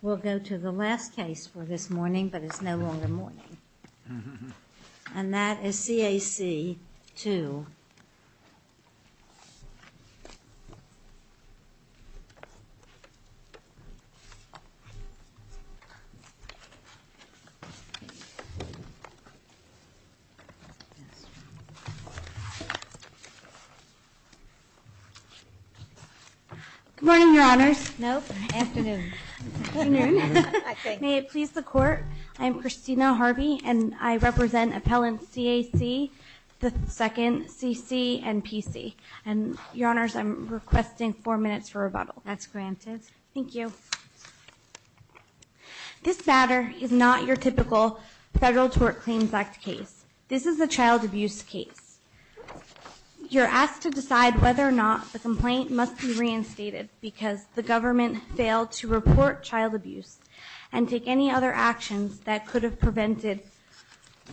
We'll go to the last case for this morning, but it's no longer morning. And that is C.A.C.II. I'm Christina Harvey, and I represent appellants C.A.C., the second, C.C., and P.C. And, Your Honors, I'm requesting four minutes for rebuttal. That's granted. Thank you. This matter is not your typical Federal Tort Claims Act case. This is a child abuse case. You're asked to decide whether or not the complaint must be reinstated because the government failed to report child abuse and take any other actions that could have prevented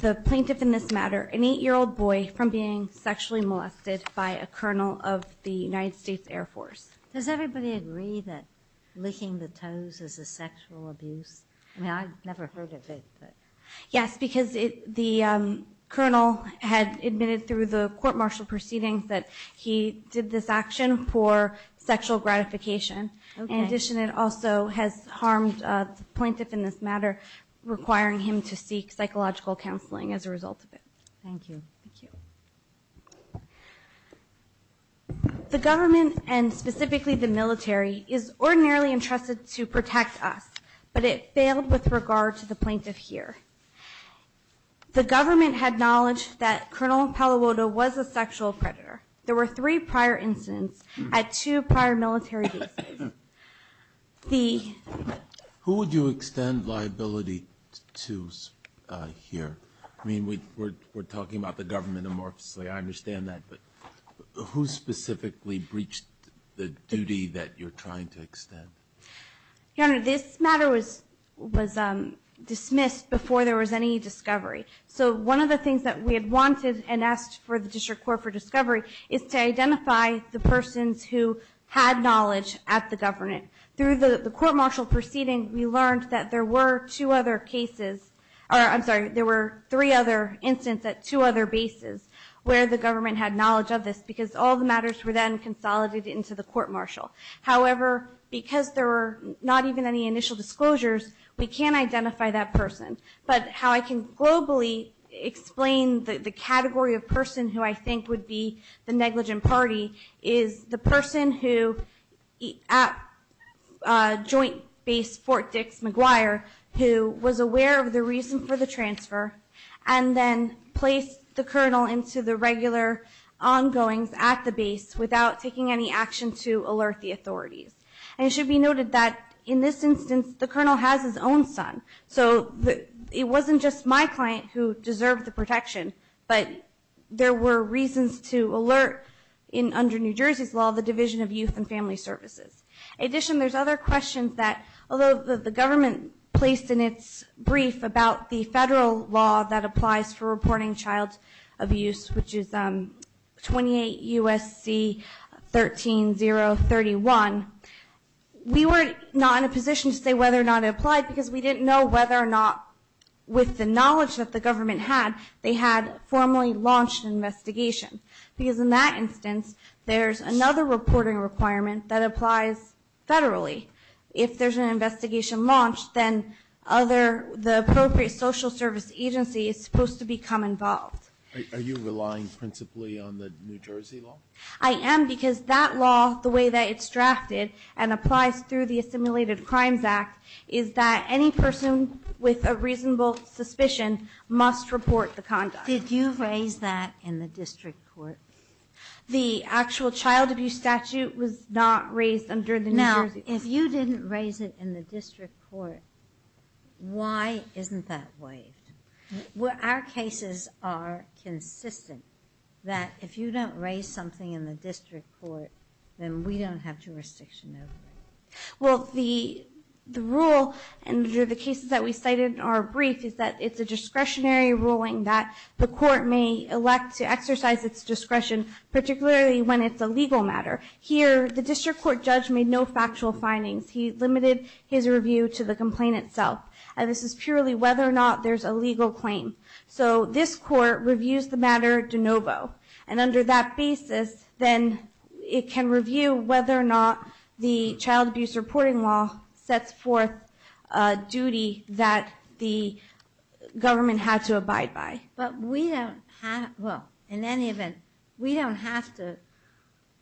the plaintiff in this matter, an eight-year-old boy, from being sexually molested by a colonel of the United States Air Force. Does everybody agree that licking the toes is a sexual abuse? I mean, I've never heard of it. Yes, because the colonel had admitted through the court-martial proceedings that he did this action for sexual gratification. In addition, it also has harmed the plaintiff in this matter, requiring him to seek psychological counseling as a result of it. Thank you. The government, and specifically the military, is ordinarily entrusted to protect us, but it failed with regard to the plaintiff here. The government had knowledge that Colonel Pallavoda was a sexual predator. There were three prior incidents at two prior military bases. Who would you extend liability to here? I mean, we're talking about the government amorphously. I understand that, but who specifically breached the duty that you're trying to extend? Your Honor, this matter was dismissed before there was any discovery. So one of the things that we had wanted and asked for the District Court for discovery is to identify the persons who had knowledge at the government. Through the court-martial proceeding, we learned that there were two other cases, or I'm sorry, there were three other incidents at two other bases where the government had knowledge of this, because all the matters were then consolidated into the court-martial. However, because there were not even any initial disclosures, we can't identify that person. But how I can globally explain the category of person who I think would be the negligent party is the person who, at Joint Base Fort Dix-McGuire, who was aware of the reason for the transfer and then placed the colonel into the regular ongoings at the base without taking any action to alert the authorities. And it should be noted that in this instance, the colonel has his own son. So it wasn't just my client who deserved the protection, but there were reasons to alert, under New Jersey's law, the Division of Youth and Family Services. In addition, there's other questions that, although the government placed in its brief about the federal law that applies for reporting child abuse, which is 28 U.S.C. 13031, we were not in a position to say whether or not it applied because we didn't know whether or not, with the knowledge that the government had, they had formally launched an investigation. Because in that instance, there's another reporting requirement that applies federally. If there's an investigation launched, then the appropriate social service agency is supposed to become involved. Are you relying principally on the New Jersey law? I am because that law, the way that it's drafted and applies through the Assimilated Crimes Act, is that any person with a reasonable suspicion must report the conduct. Did you raise that in the district court? The actual child abuse statute was not raised under the New Jersey law. Now, if you didn't raise it in the district court, why isn't that waived? Our cases are consistent that if you don't raise something in the district court, then we don't have jurisdiction over it. Well, the rule under the cases that we cited in our brief is that it's a discretionary ruling that the court may elect to exercise its discretion, particularly when it's a legal matter. Here, the district court judge made no factual findings. He limited his review to the complaint itself. And this is purely whether or not there's a legal claim. So this court reviews the matter de novo. And under that basis, then it can review whether or not the child abuse reporting law sets forth a duty that the government had to abide by. But we don't have... Well, in any event, we don't have to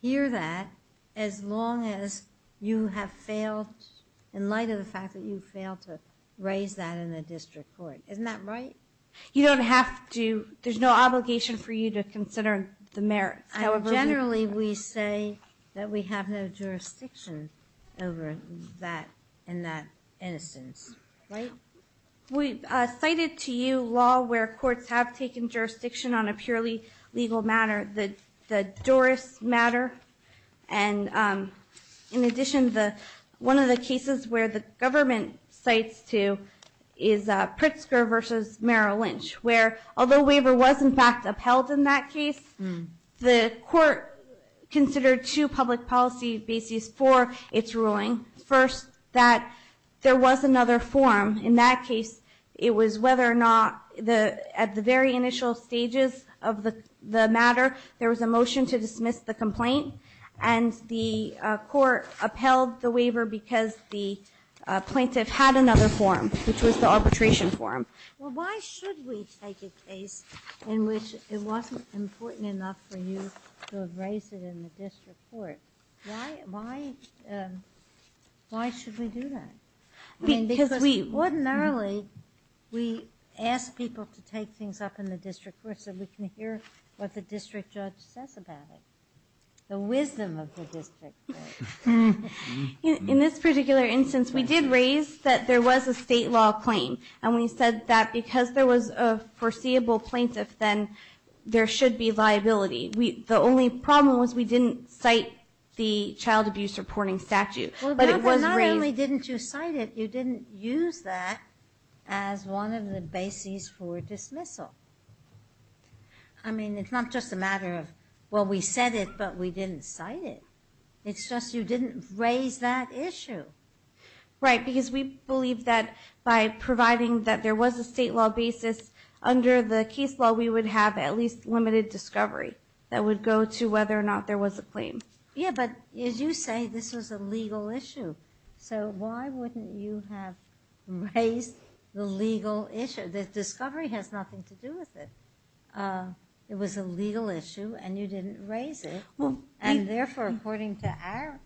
hear that as long as you have failed in light of the fact that you failed to raise that in a district court. Isn't that right? You don't have to. There's no obligation for you to consider the merits. Generally, we say that we have no jurisdiction over that in that instance. Right? We cited to you law where courts have taken jurisdiction on a purely legal matter, the Doris matter. And in addition, one of the cases where the government cites to is Pritzker v. Merrill Lynch, where although waiver was, in fact, upheld in that case, the court considered two public policy bases for its ruling. First, that there was another form. In that case, it was whether or not at the very initial stages of the matter, there was a motion to dismiss the complaint, and the court upheld the waiver because the plaintiff had another form, which was the arbitration form. Well, why should we take a case in which it wasn't important enough for you to have raised it in the district court? Why should we do that? I mean, because ordinarily we ask people to take things up in the district court so we can hear what the district judge says about it, the wisdom of the district. In this particular instance, we did raise that there was a state law claim, and we said that because there was a foreseeable plaintiff, then there should be liability. The only problem was we didn't cite the child abuse reporting statute. Not only didn't you cite it, you didn't use that as one of the bases for dismissal. I mean, it's not just a matter of, well, we said it, but we didn't cite it. It's just you didn't raise that issue. Right, because we believe that by providing that there was a state law basis, under the case law we would have at least limited discovery Yeah, but as you say, this was a legal issue. So why wouldn't you have raised the legal issue? The discovery has nothing to do with it. It was a legal issue, and you didn't raise it. And therefore, according to our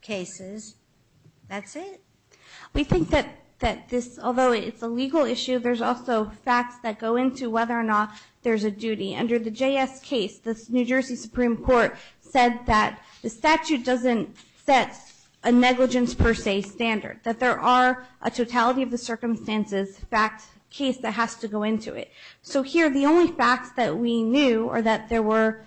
cases, that's it. We think that this, although it's a legal issue, there's also facts that go into whether or not there's a duty. Under the JS case, the New Jersey Supreme Court said that the statute doesn't set a negligence per se standard, that there are a totality of the circumstances case that has to go into it. So here, the only facts that we knew are that there were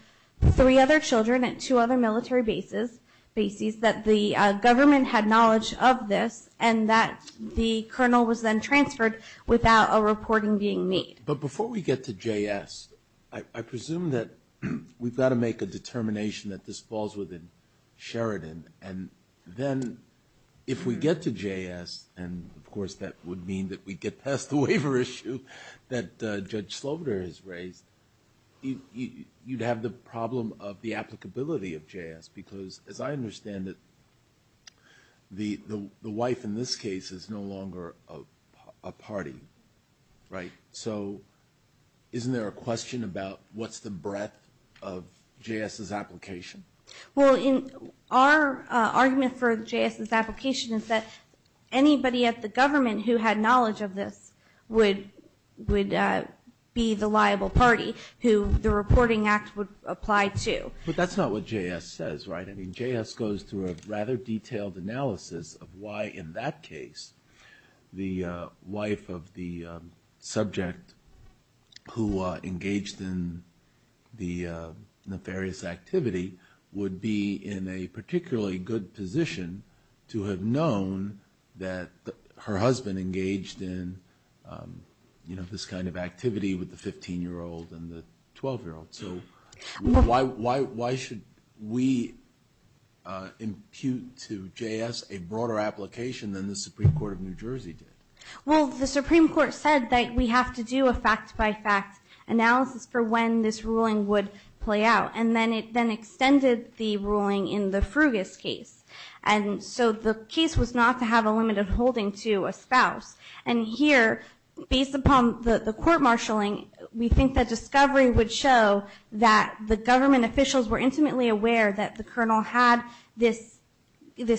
three other children at two other military bases, that the government had knowledge of this, and that the colonel was then transferred without a reporting being made. But before we get to JS, I presume that we've got to make a determination that this falls within Sheridan, and then if we get to JS, and of course that would mean that we get past the waiver issue that Judge Slobner has raised, you'd have the problem of the applicability of JS, because as I understand it, the wife in this case is no longer a party. Right? So isn't there a question about what's the breadth of JS's application? Well, our argument for JS's application is that anybody at the government who had knowledge of this would be the liable party who the reporting act would apply to. But that's not what JS says, right? I mean, JS goes through a rather detailed analysis of why in that case the wife of the subject who engaged in the nefarious activity would be in a particularly good position to have known that her husband engaged in this kind of activity with the 15-year-old and the 12-year-old. So why should we impute to JS a broader application than the Supreme Court of New Jersey did? Well, the Supreme Court said that we have to do a fact-by-fact analysis for when this ruling would play out, and then it then extended the ruling in the Frugus case. And so the case was not to have a limited holding to a spouse. And here, based upon the court marshalling, we think that discovery would show that the government officials were intimately aware that the colonel had this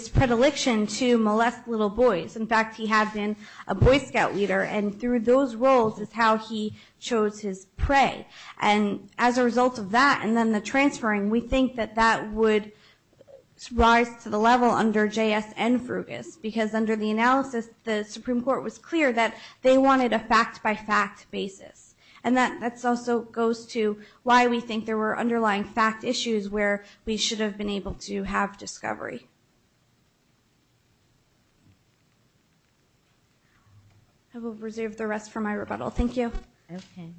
predilection to molest little boys. In fact, he had been a Boy Scout leader, and through those roles is how he chose his prey. And as a result of that and then the transferring, we think that that would rise to the level under JS and Frugus, because under the analysis, the Supreme Court was clear that they wanted a fact-by-fact basis. And that also goes to why we think there were underlying fact issues where we should have been able to have discovery. I will reserve the rest for my rebuttal. Thank you. Okay.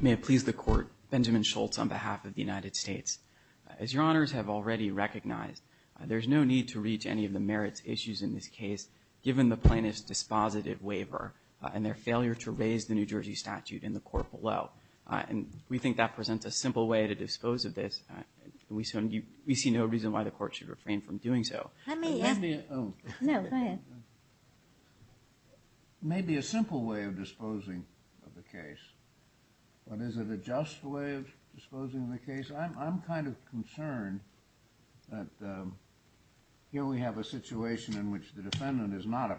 May it please the Court. Benjamin Schultz on behalf of the United States. As your honors have already recognized, given the plaintiff's dispositive waiver and their failure to raise the New Jersey statute in the court below. And we think that presents a simple way to dispose of this. We see no reason why the Court should refrain from doing so. Let me ask you. No, go ahead. Maybe a simple way of disposing of the case. But is it a just way of disposing of the case? I'm kind of concerned that here we have a situation in which the defendant is not a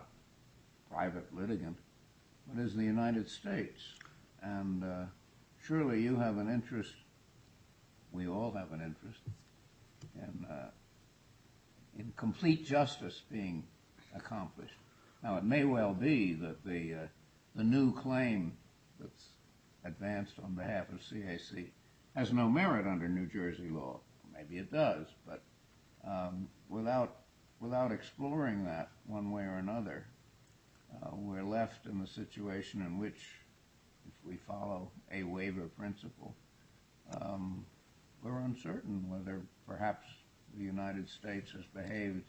private litigant, but is the United States. And surely you have an interest, we all have an interest, in complete justice being accomplished. Now, it may well be that the new claim that's advanced on behalf of CAC has no merit under New Jersey law. Maybe it does, but without exploring that one way or another, we're left in the situation in which if we follow a waiver principle, we're uncertain whether perhaps the United States has behaved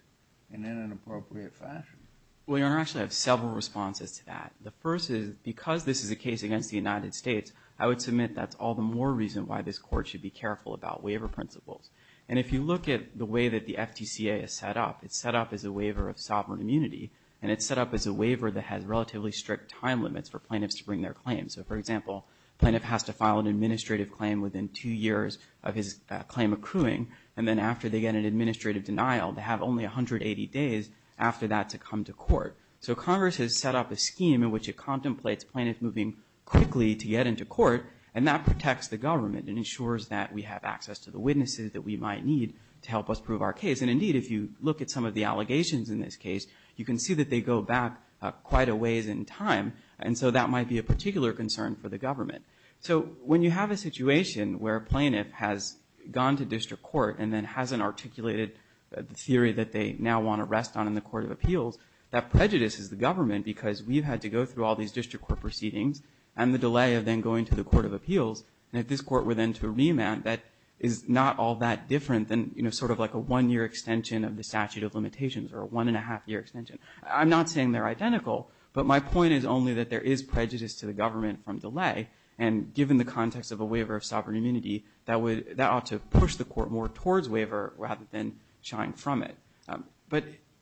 in an inappropriate fashion. Well, your honor, I actually have several responses to that. The first is because this is a case against the United States, I would submit that's all the more reason why this Court should be careful about waiver principles. And if you look at the way that the FTCA is set up, it's set up as a waiver of sovereign immunity, and it's set up as a waiver that has relatively strict time limits for plaintiffs to bring their claims. So, for example, a plaintiff has to file an administrative claim within two years of his claim accruing, and then after they get an administrative denial, they have only 180 days after that to come to court. So Congress has set up a scheme in which it contemplates a plaintiff moving quickly to get into court, and that protects the government and ensures that we have access to the witnesses that we might need to help us prove our case. And, indeed, if you look at some of the allegations in this case, you can see that they go back quite a ways in time, and so that might be a particular concern for the government. So when you have a situation where a plaintiff has gone to district court and then hasn't articulated the theory that they now want to rest on in the Court of Appeals, that prejudices the government because we've had to go through all these district court proceedings and the delay of then going to the Court of Appeals, and if this court were then to remand, that is not all that different than sort of like a one-year extension of the statute of limitations or a one-and-a-half-year extension. I'm not saying they're identical, but my point is only that there is prejudice to the government from delay, and given the context of a waiver of sovereign immunity, that ought to push the court more towards waiver rather than shying from it.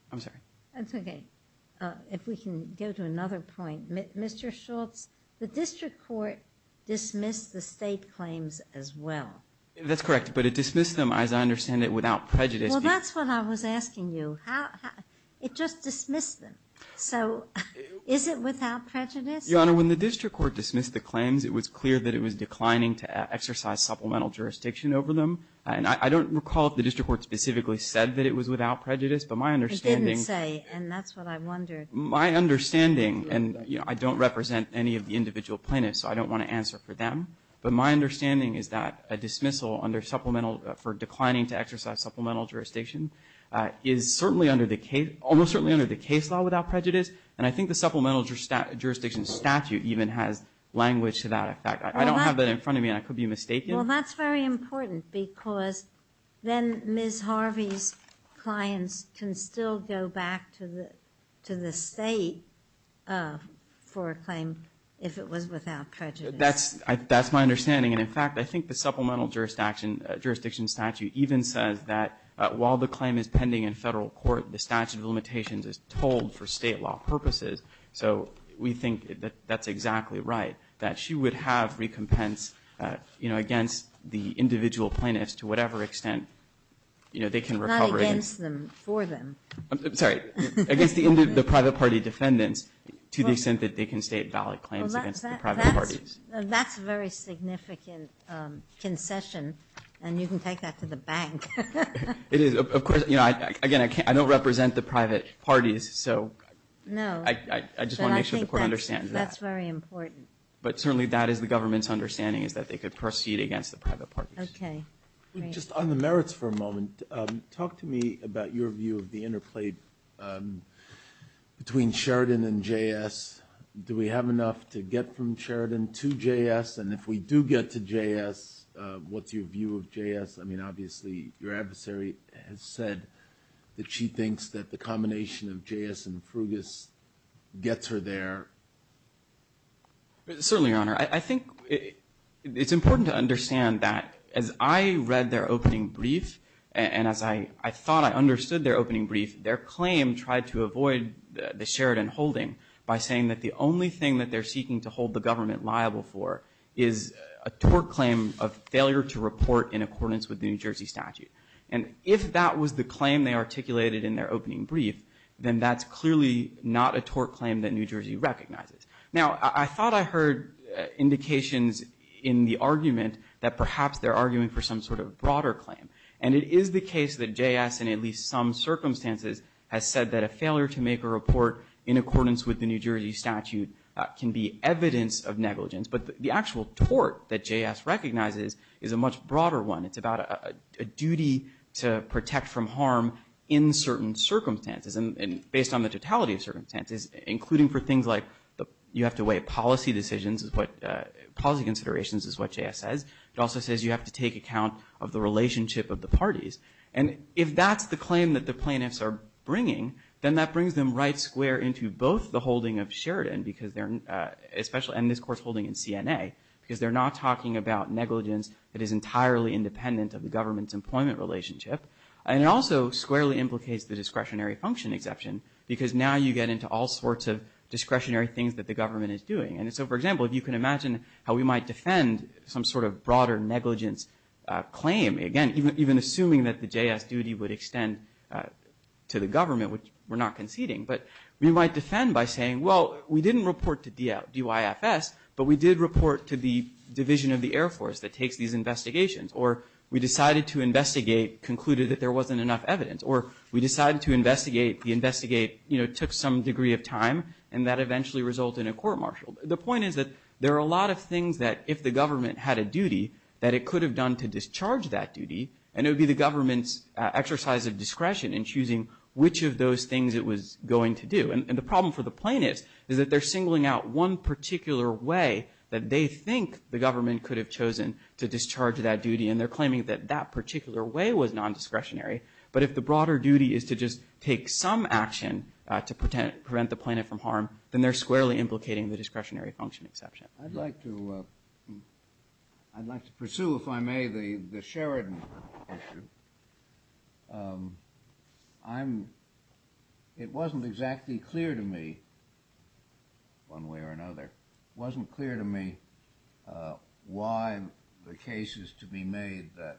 I'm sorry. That's okay. If we can go to another point. Mr. Schultz, the district court dismissed the State claims as well. That's correct, but it dismissed them, as I understand it, without prejudice. Well, that's what I was asking you. It just dismissed them. So is it without prejudice? Your Honor, when the district court dismissed the claims, it was clear that it was declining to exercise supplemental jurisdiction over them, and I don't recall if the district court specifically said that it was without prejudice, but my understanding It didn't say, and that's what I wondered. My understanding, and I don't represent any of the individual plaintiffs, so I don't want to answer for them, but my understanding is that a dismissal under supplemental for declining to exercise supplemental jurisdiction is certainly under the case, almost certainly under the case law without prejudice, and I think the supplemental jurisdiction statute even has language to that effect. I don't have that in front of me, and I could be mistaken. Well, that's very important because then Ms. Harvey's clients can still go back to the State for a claim if it was without prejudice. That's my understanding, and, in fact, I think the supplemental jurisdiction statute even says that while the claim is pending in federal court, the statute of limitations is told for State law purposes, so we think that that's exactly right, that she would have recompense against the individual plaintiffs to whatever extent they can recover. Not against them, for them. I'm sorry. Against the private party defendants to the extent that they can state valid claims against the private parties. That's a very significant concession, and you can take that to the bank. It is. Of course, again, I don't represent the private parties, so I just want to make sure the court understands that. That's very important. But certainly that is the government's understanding is that they could proceed against the private parties. Okay. Just on the merits for a moment, talk to me about your view of the interplay between Sheridan and JS. Do we have enough to get from Sheridan to JS? And if we do get to JS, what's your view of JS? I mean, obviously your adversary has said that she thinks that the combination of JS and Frugus gets her there. Certainly, Your Honor. I think it's important to understand that as I read their opening brief, and as I thought I understood their opening brief, their claim tried to avoid the Sheridan holding by saying that the only thing that they're seeking to hold the government liable for is a tort claim of failure to report in accordance with the New Jersey statute. And if that was the claim they articulated in their opening brief, then that's clearly not a tort claim that New Jersey recognizes. Now, I thought I heard indications in the argument that perhaps they're arguing for some sort of broader claim. And it is the case that JS, in at least some circumstances, has said that a failure to make a report in accordance with the New Jersey statute can be evidence of negligence. But the actual tort that JS recognizes is a much broader one. It's about a duty to protect from harm in certain circumstances, and based on the totality of circumstances, including for things like you have to weigh policy decisions. Policy considerations is what JS says. It also says you have to take account of the relationship of the parties. And if that's the claim that the plaintiffs are bringing, then that brings them right square into both the holding of Sheridan, and this court's holding in CNA, because they're not talking about negligence that is entirely independent of the government's employment relationship. And it also squarely implicates the discretionary function exception, because now you get into all sorts of discretionary things that the government is doing. And so, for example, if you can imagine how we might defend some sort of broader negligence claim, again, even assuming that the JS duty would extend to the government, which we're not conceding. But we might defend by saying, well, we didn't report to DYFS, but we did report to the division of the Air Force that takes these investigations. Or we decided to investigate, concluded that there wasn't enough evidence. Or we decided to investigate, the investigate, you know, took some degree of time, and that eventually resulted in a court-martial. The point is that there are a lot of things that if the government had a duty, that it could have done to discharge that duty, and it would be the government's exercise of discretion in choosing which of those things it was going to do. And the problem for the plaintiffs is that they're singling out one particular way that they think the government could have chosen to discharge that duty, and they're claiming that that particular way was nondiscretionary. But if the broader duty is to just take some action to prevent the plaintiff from harm, then they're squarely implicating the discretionary function exception. I'd like to pursue, if I may, the Sheridan issue. It wasn't exactly clear to me, one way or another, it wasn't clear to me why the case is to be made that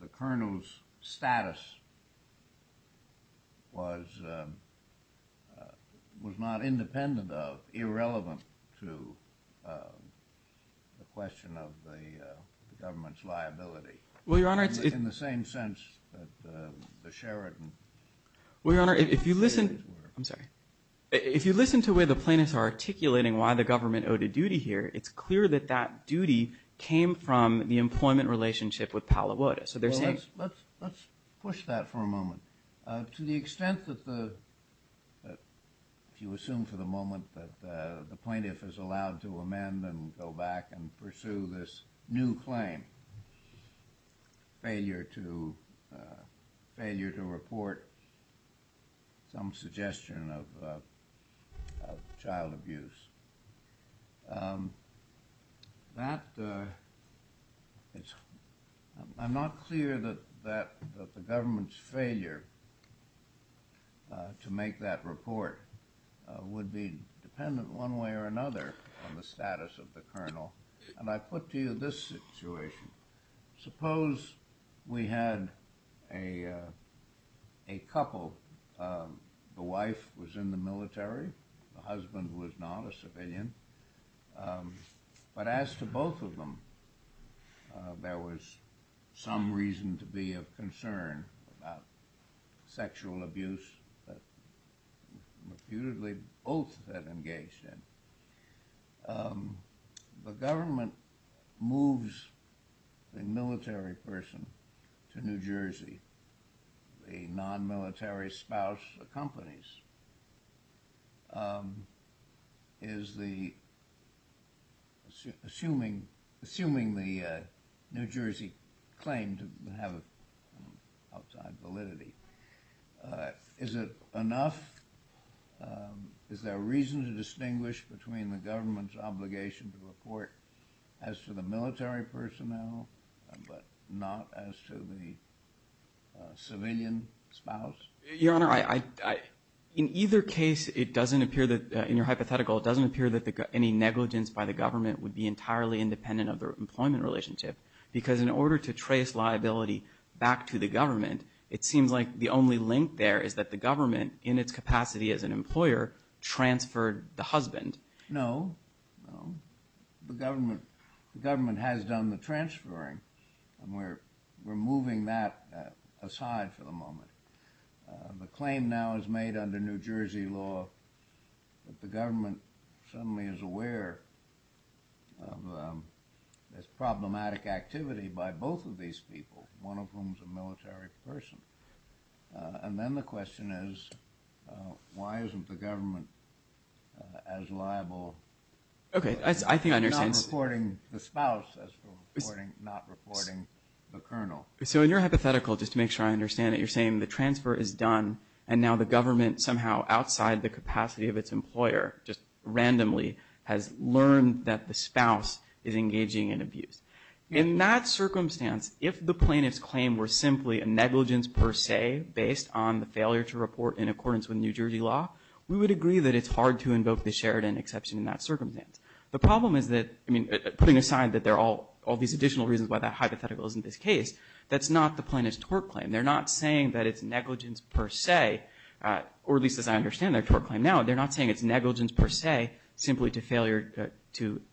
the colonel's status was not independent of, irrelevant to the question of the government's liability, in the same sense that the Sheridan cases were. I'm sorry. If you listen to where the plaintiffs are articulating why the government owed a duty here, it's clear that that duty came from the employment relationship with Palo Alto. Let's push that for a moment. To the extent that the, if you assume for the moment that the plaintiff is allowed to amend and go back and pursue this new claim, failure to report some suggestion of child abuse, I'm not clear that the government's failure to make that report would be dependent, one way or another, on the status of the colonel. And I put to you this situation. Suppose we had a couple. The wife was in the military. The husband was not, a civilian. But as to both of them, there was some reason to be of concern about sexual abuse that reputedly both had engaged in. The government moves a military person to New Jersey. The non-military spouse accompanies. Assuming the New Jersey claim to have an outside validity, is it enough? Is there a reason to distinguish between the government's obligation to report as to the military personnel but not as to the civilian spouse? Your Honor, in either case, it doesn't appear that, in your hypothetical, it doesn't appear that any negligence by the government would be entirely independent of the employment relationship because in order to trace liability back to the government, it seems like the only link there is that the government, in its capacity as an employer, transferred the husband. No. No. The government has done the transferring, and we're moving that aside for the moment. The claim now is made under New Jersey law that the government suddenly is aware of this problematic activity by both of these people, one of whom is a military person. And then the question is, why isn't the government as liable? Okay. I think I understand. Not reporting the spouse as to reporting, not reporting the colonel. So in your hypothetical, just to make sure I understand it, you're saying the transfer is done, and now the government somehow outside the capacity of its employer, just randomly, has learned that the spouse is engaging in abuse. In that circumstance, if the plaintiff's claim were simply a negligence per se, based on the failure to report in accordance with New Jersey law, we would agree that it's hard to invoke the Sheridan exception in that circumstance. The problem is that, I mean, putting aside that there are all these additional reasons why that hypothetical isn't this case, that's not the plaintiff's tort claim. They're not saying that it's negligence per se, or at least as I understand their tort claim now, they're not saying it's negligence per se, simply to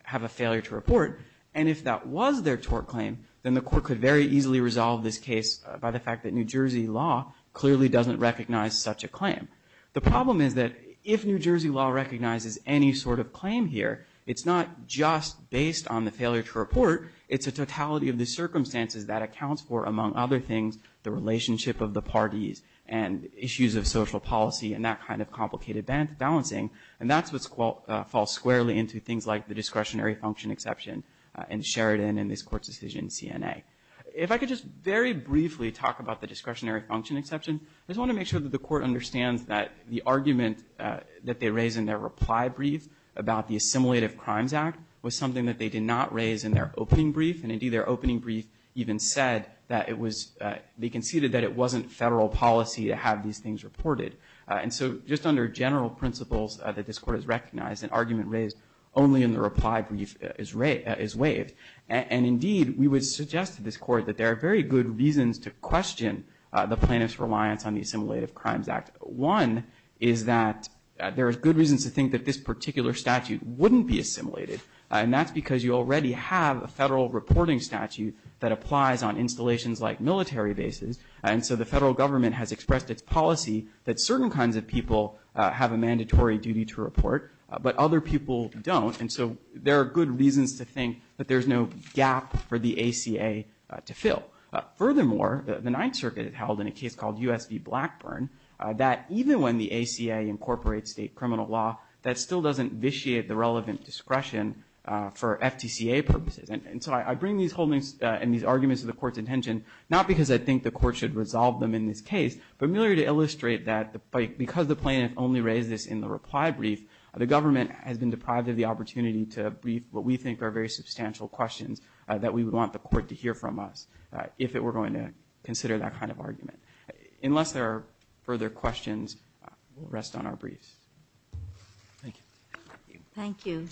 have a failure to report. And if that was their tort claim, then the court could very easily resolve this case by the fact that New Jersey law clearly doesn't recognize such a claim. The problem is that if New Jersey law recognizes any sort of claim here, it's not just based on the failure to report, it's a totality of the circumstances that accounts for, among other things, the relationship of the parties and issues of social policy and that kind of complicated balancing. And that's what falls squarely into things like the discretionary function exception in Sheridan and this court's decision in CNA. If I could just very briefly talk about the discretionary function exception, I just want to make sure that the court understands that the argument that they raise in their reply brief about the Assimilative Crimes Act was something that they did not raise in their opening brief, and indeed their opening brief even said that it was, they conceded that it wasn't federal policy to have these things reported. And so just under general principles that this court has recognized, an argument raised only in the reply brief is waived. And indeed, we would suggest to this court that there are very good reasons to question the plaintiff's reliance on the Assimilative Crimes Act. One is that there are good reasons to think that this particular statute wouldn't be assimilated, and that's because you already have a federal reporting statute that applies on installations like military bases, and so the federal government has expressed its policy that certain kinds of people have a mandatory duty to report, but other people don't. And so there are good reasons to think that there's no gap for the ACA to fill. Furthermore, the Ninth Circuit held in a case called U.S. v. Blackburn, that even when the ACA incorporates state criminal law, that still doesn't vitiate the relevant discretion for FTCA purposes. And so I bring these holdings and these arguments to the court's attention, not because I think the court should resolve them in this case, but merely to illustrate that because the plaintiff only raised this in the reply brief, the government has been deprived of the opportunity to brief what we think are very substantial questions that we would want the court to hear from us if it were going to consider that kind of argument. Unless there are further questions, we'll rest on our briefs. Thank you. Thank you.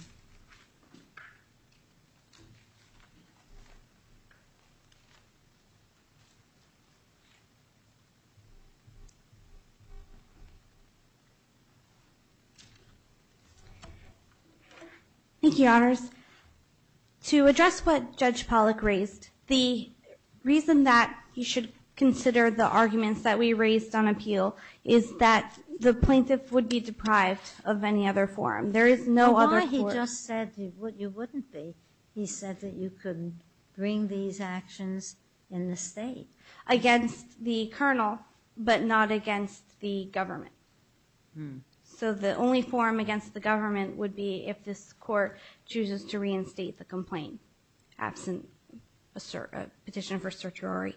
Thank you, Your Honors. To address what Judge Pollack raised, the reason that he should consider the arguments that we raised on appeal is that the plaintiff would be deprived of any other forum. There is no other forum. But why he just said you wouldn't be? He said that you could bring these actions in the state. Against the colonel, but not against the government. So the only forum against the government would be if this court chooses to reinstate the complaint, absent a petition for certiorari.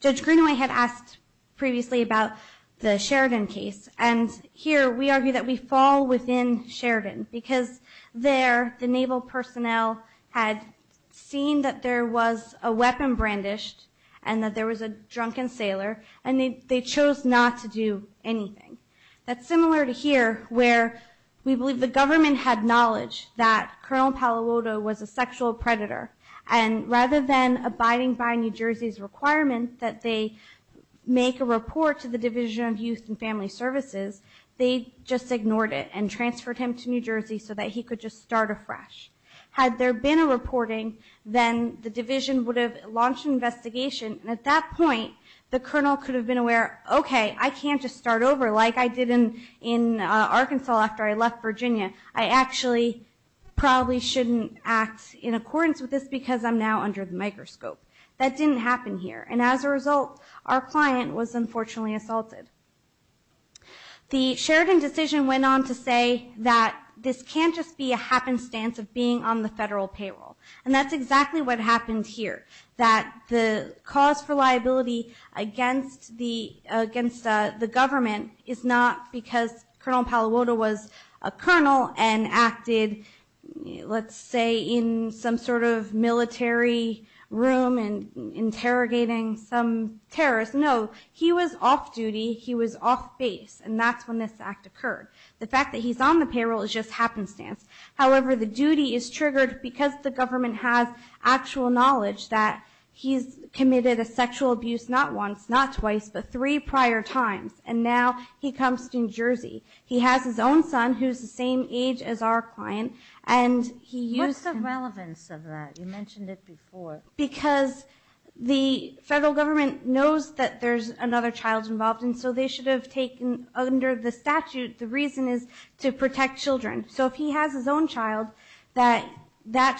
Judge Greenaway had asked previously about the Sheridan case, and here we argue that we fall within Sheridan, because there the naval personnel had seen that there was a weapon brandished and that there was a drunken sailor, and they chose not to do anything. That's similar to here, where we believe the government had knowledge that Colonel Palo Alto was a sexual predator, and rather than abiding by New Jersey's requirement that they make a report to the Division of Youth and Family Services, they just ignored it and transferred him to New Jersey so that he could just start afresh. Had there been a reporting, then the division would have launched an investigation, and at that point the colonel could have been aware, okay, I can't just start over like I did in Arkansas after I left Virginia. I actually probably shouldn't act in accordance with this because I'm now under the microscope. That didn't happen here. And as a result, our client was unfortunately assaulted. The Sheridan decision went on to say that this can't just be a happenstance of being on the federal payroll, and that's exactly what happened here, that the cause for liability against the government is not because Colonel Palo Alto was a colonel and acted, let's say, in some sort of military room and interrogating some terrorists. No, he was off duty. He was off base, and that's when this act occurred. The fact that he's on the payroll is just happenstance. However, the duty is triggered because the government has actual knowledge that he's committed a sexual abuse not once, not twice, but three prior times, and now he comes to New Jersey. He has his own son who's the same age as our client, and he used him. What's the relevance of that? You mentioned it before. Because the federal government knows that there's another child involved, and so they should have taken under the statute, the reason is to protect children. So if he has his own child, that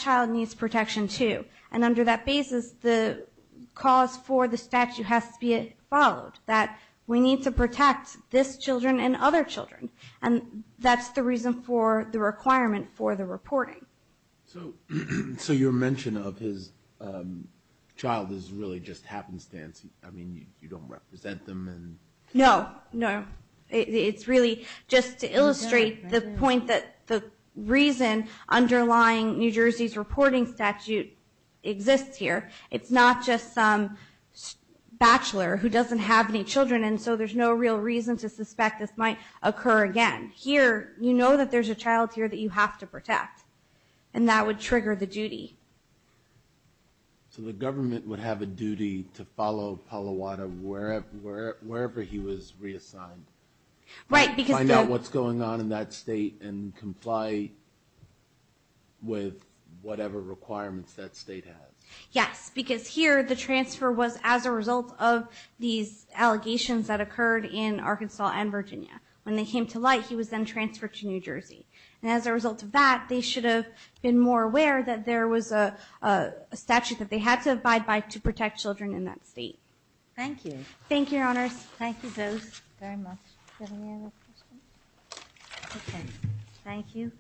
child needs protection too. And under that basis, the cause for the statute has to be followed, that we need to protect this children and other children, and that's the reason for the requirement for the reporting. So your mention of his child is really just happenstance. I mean, you don't represent them. No, no. It's really just to illustrate the point that the reason underlying New Jersey's reporting statute exists here. It's not just some bachelor who doesn't have any children, and so there's no real reason to suspect this might occur again. Here, you know that there's a child here that you have to protect, and that would trigger the duty. So the government would have a duty to follow Palo Alto wherever he was reassigned. Right. Find out what's going on in that state and comply with whatever requirements that state has. Yes, because here, the transfer was as a result of these allegations that occurred in Arkansas and Virginia. When they came to light, he was then transferred to New Jersey. And as a result of that, they should have been more aware that there was a statute that they had to abide by to protect children in that state. Thank you. Thank you, Your Honors. Thank you both very much. Thank you.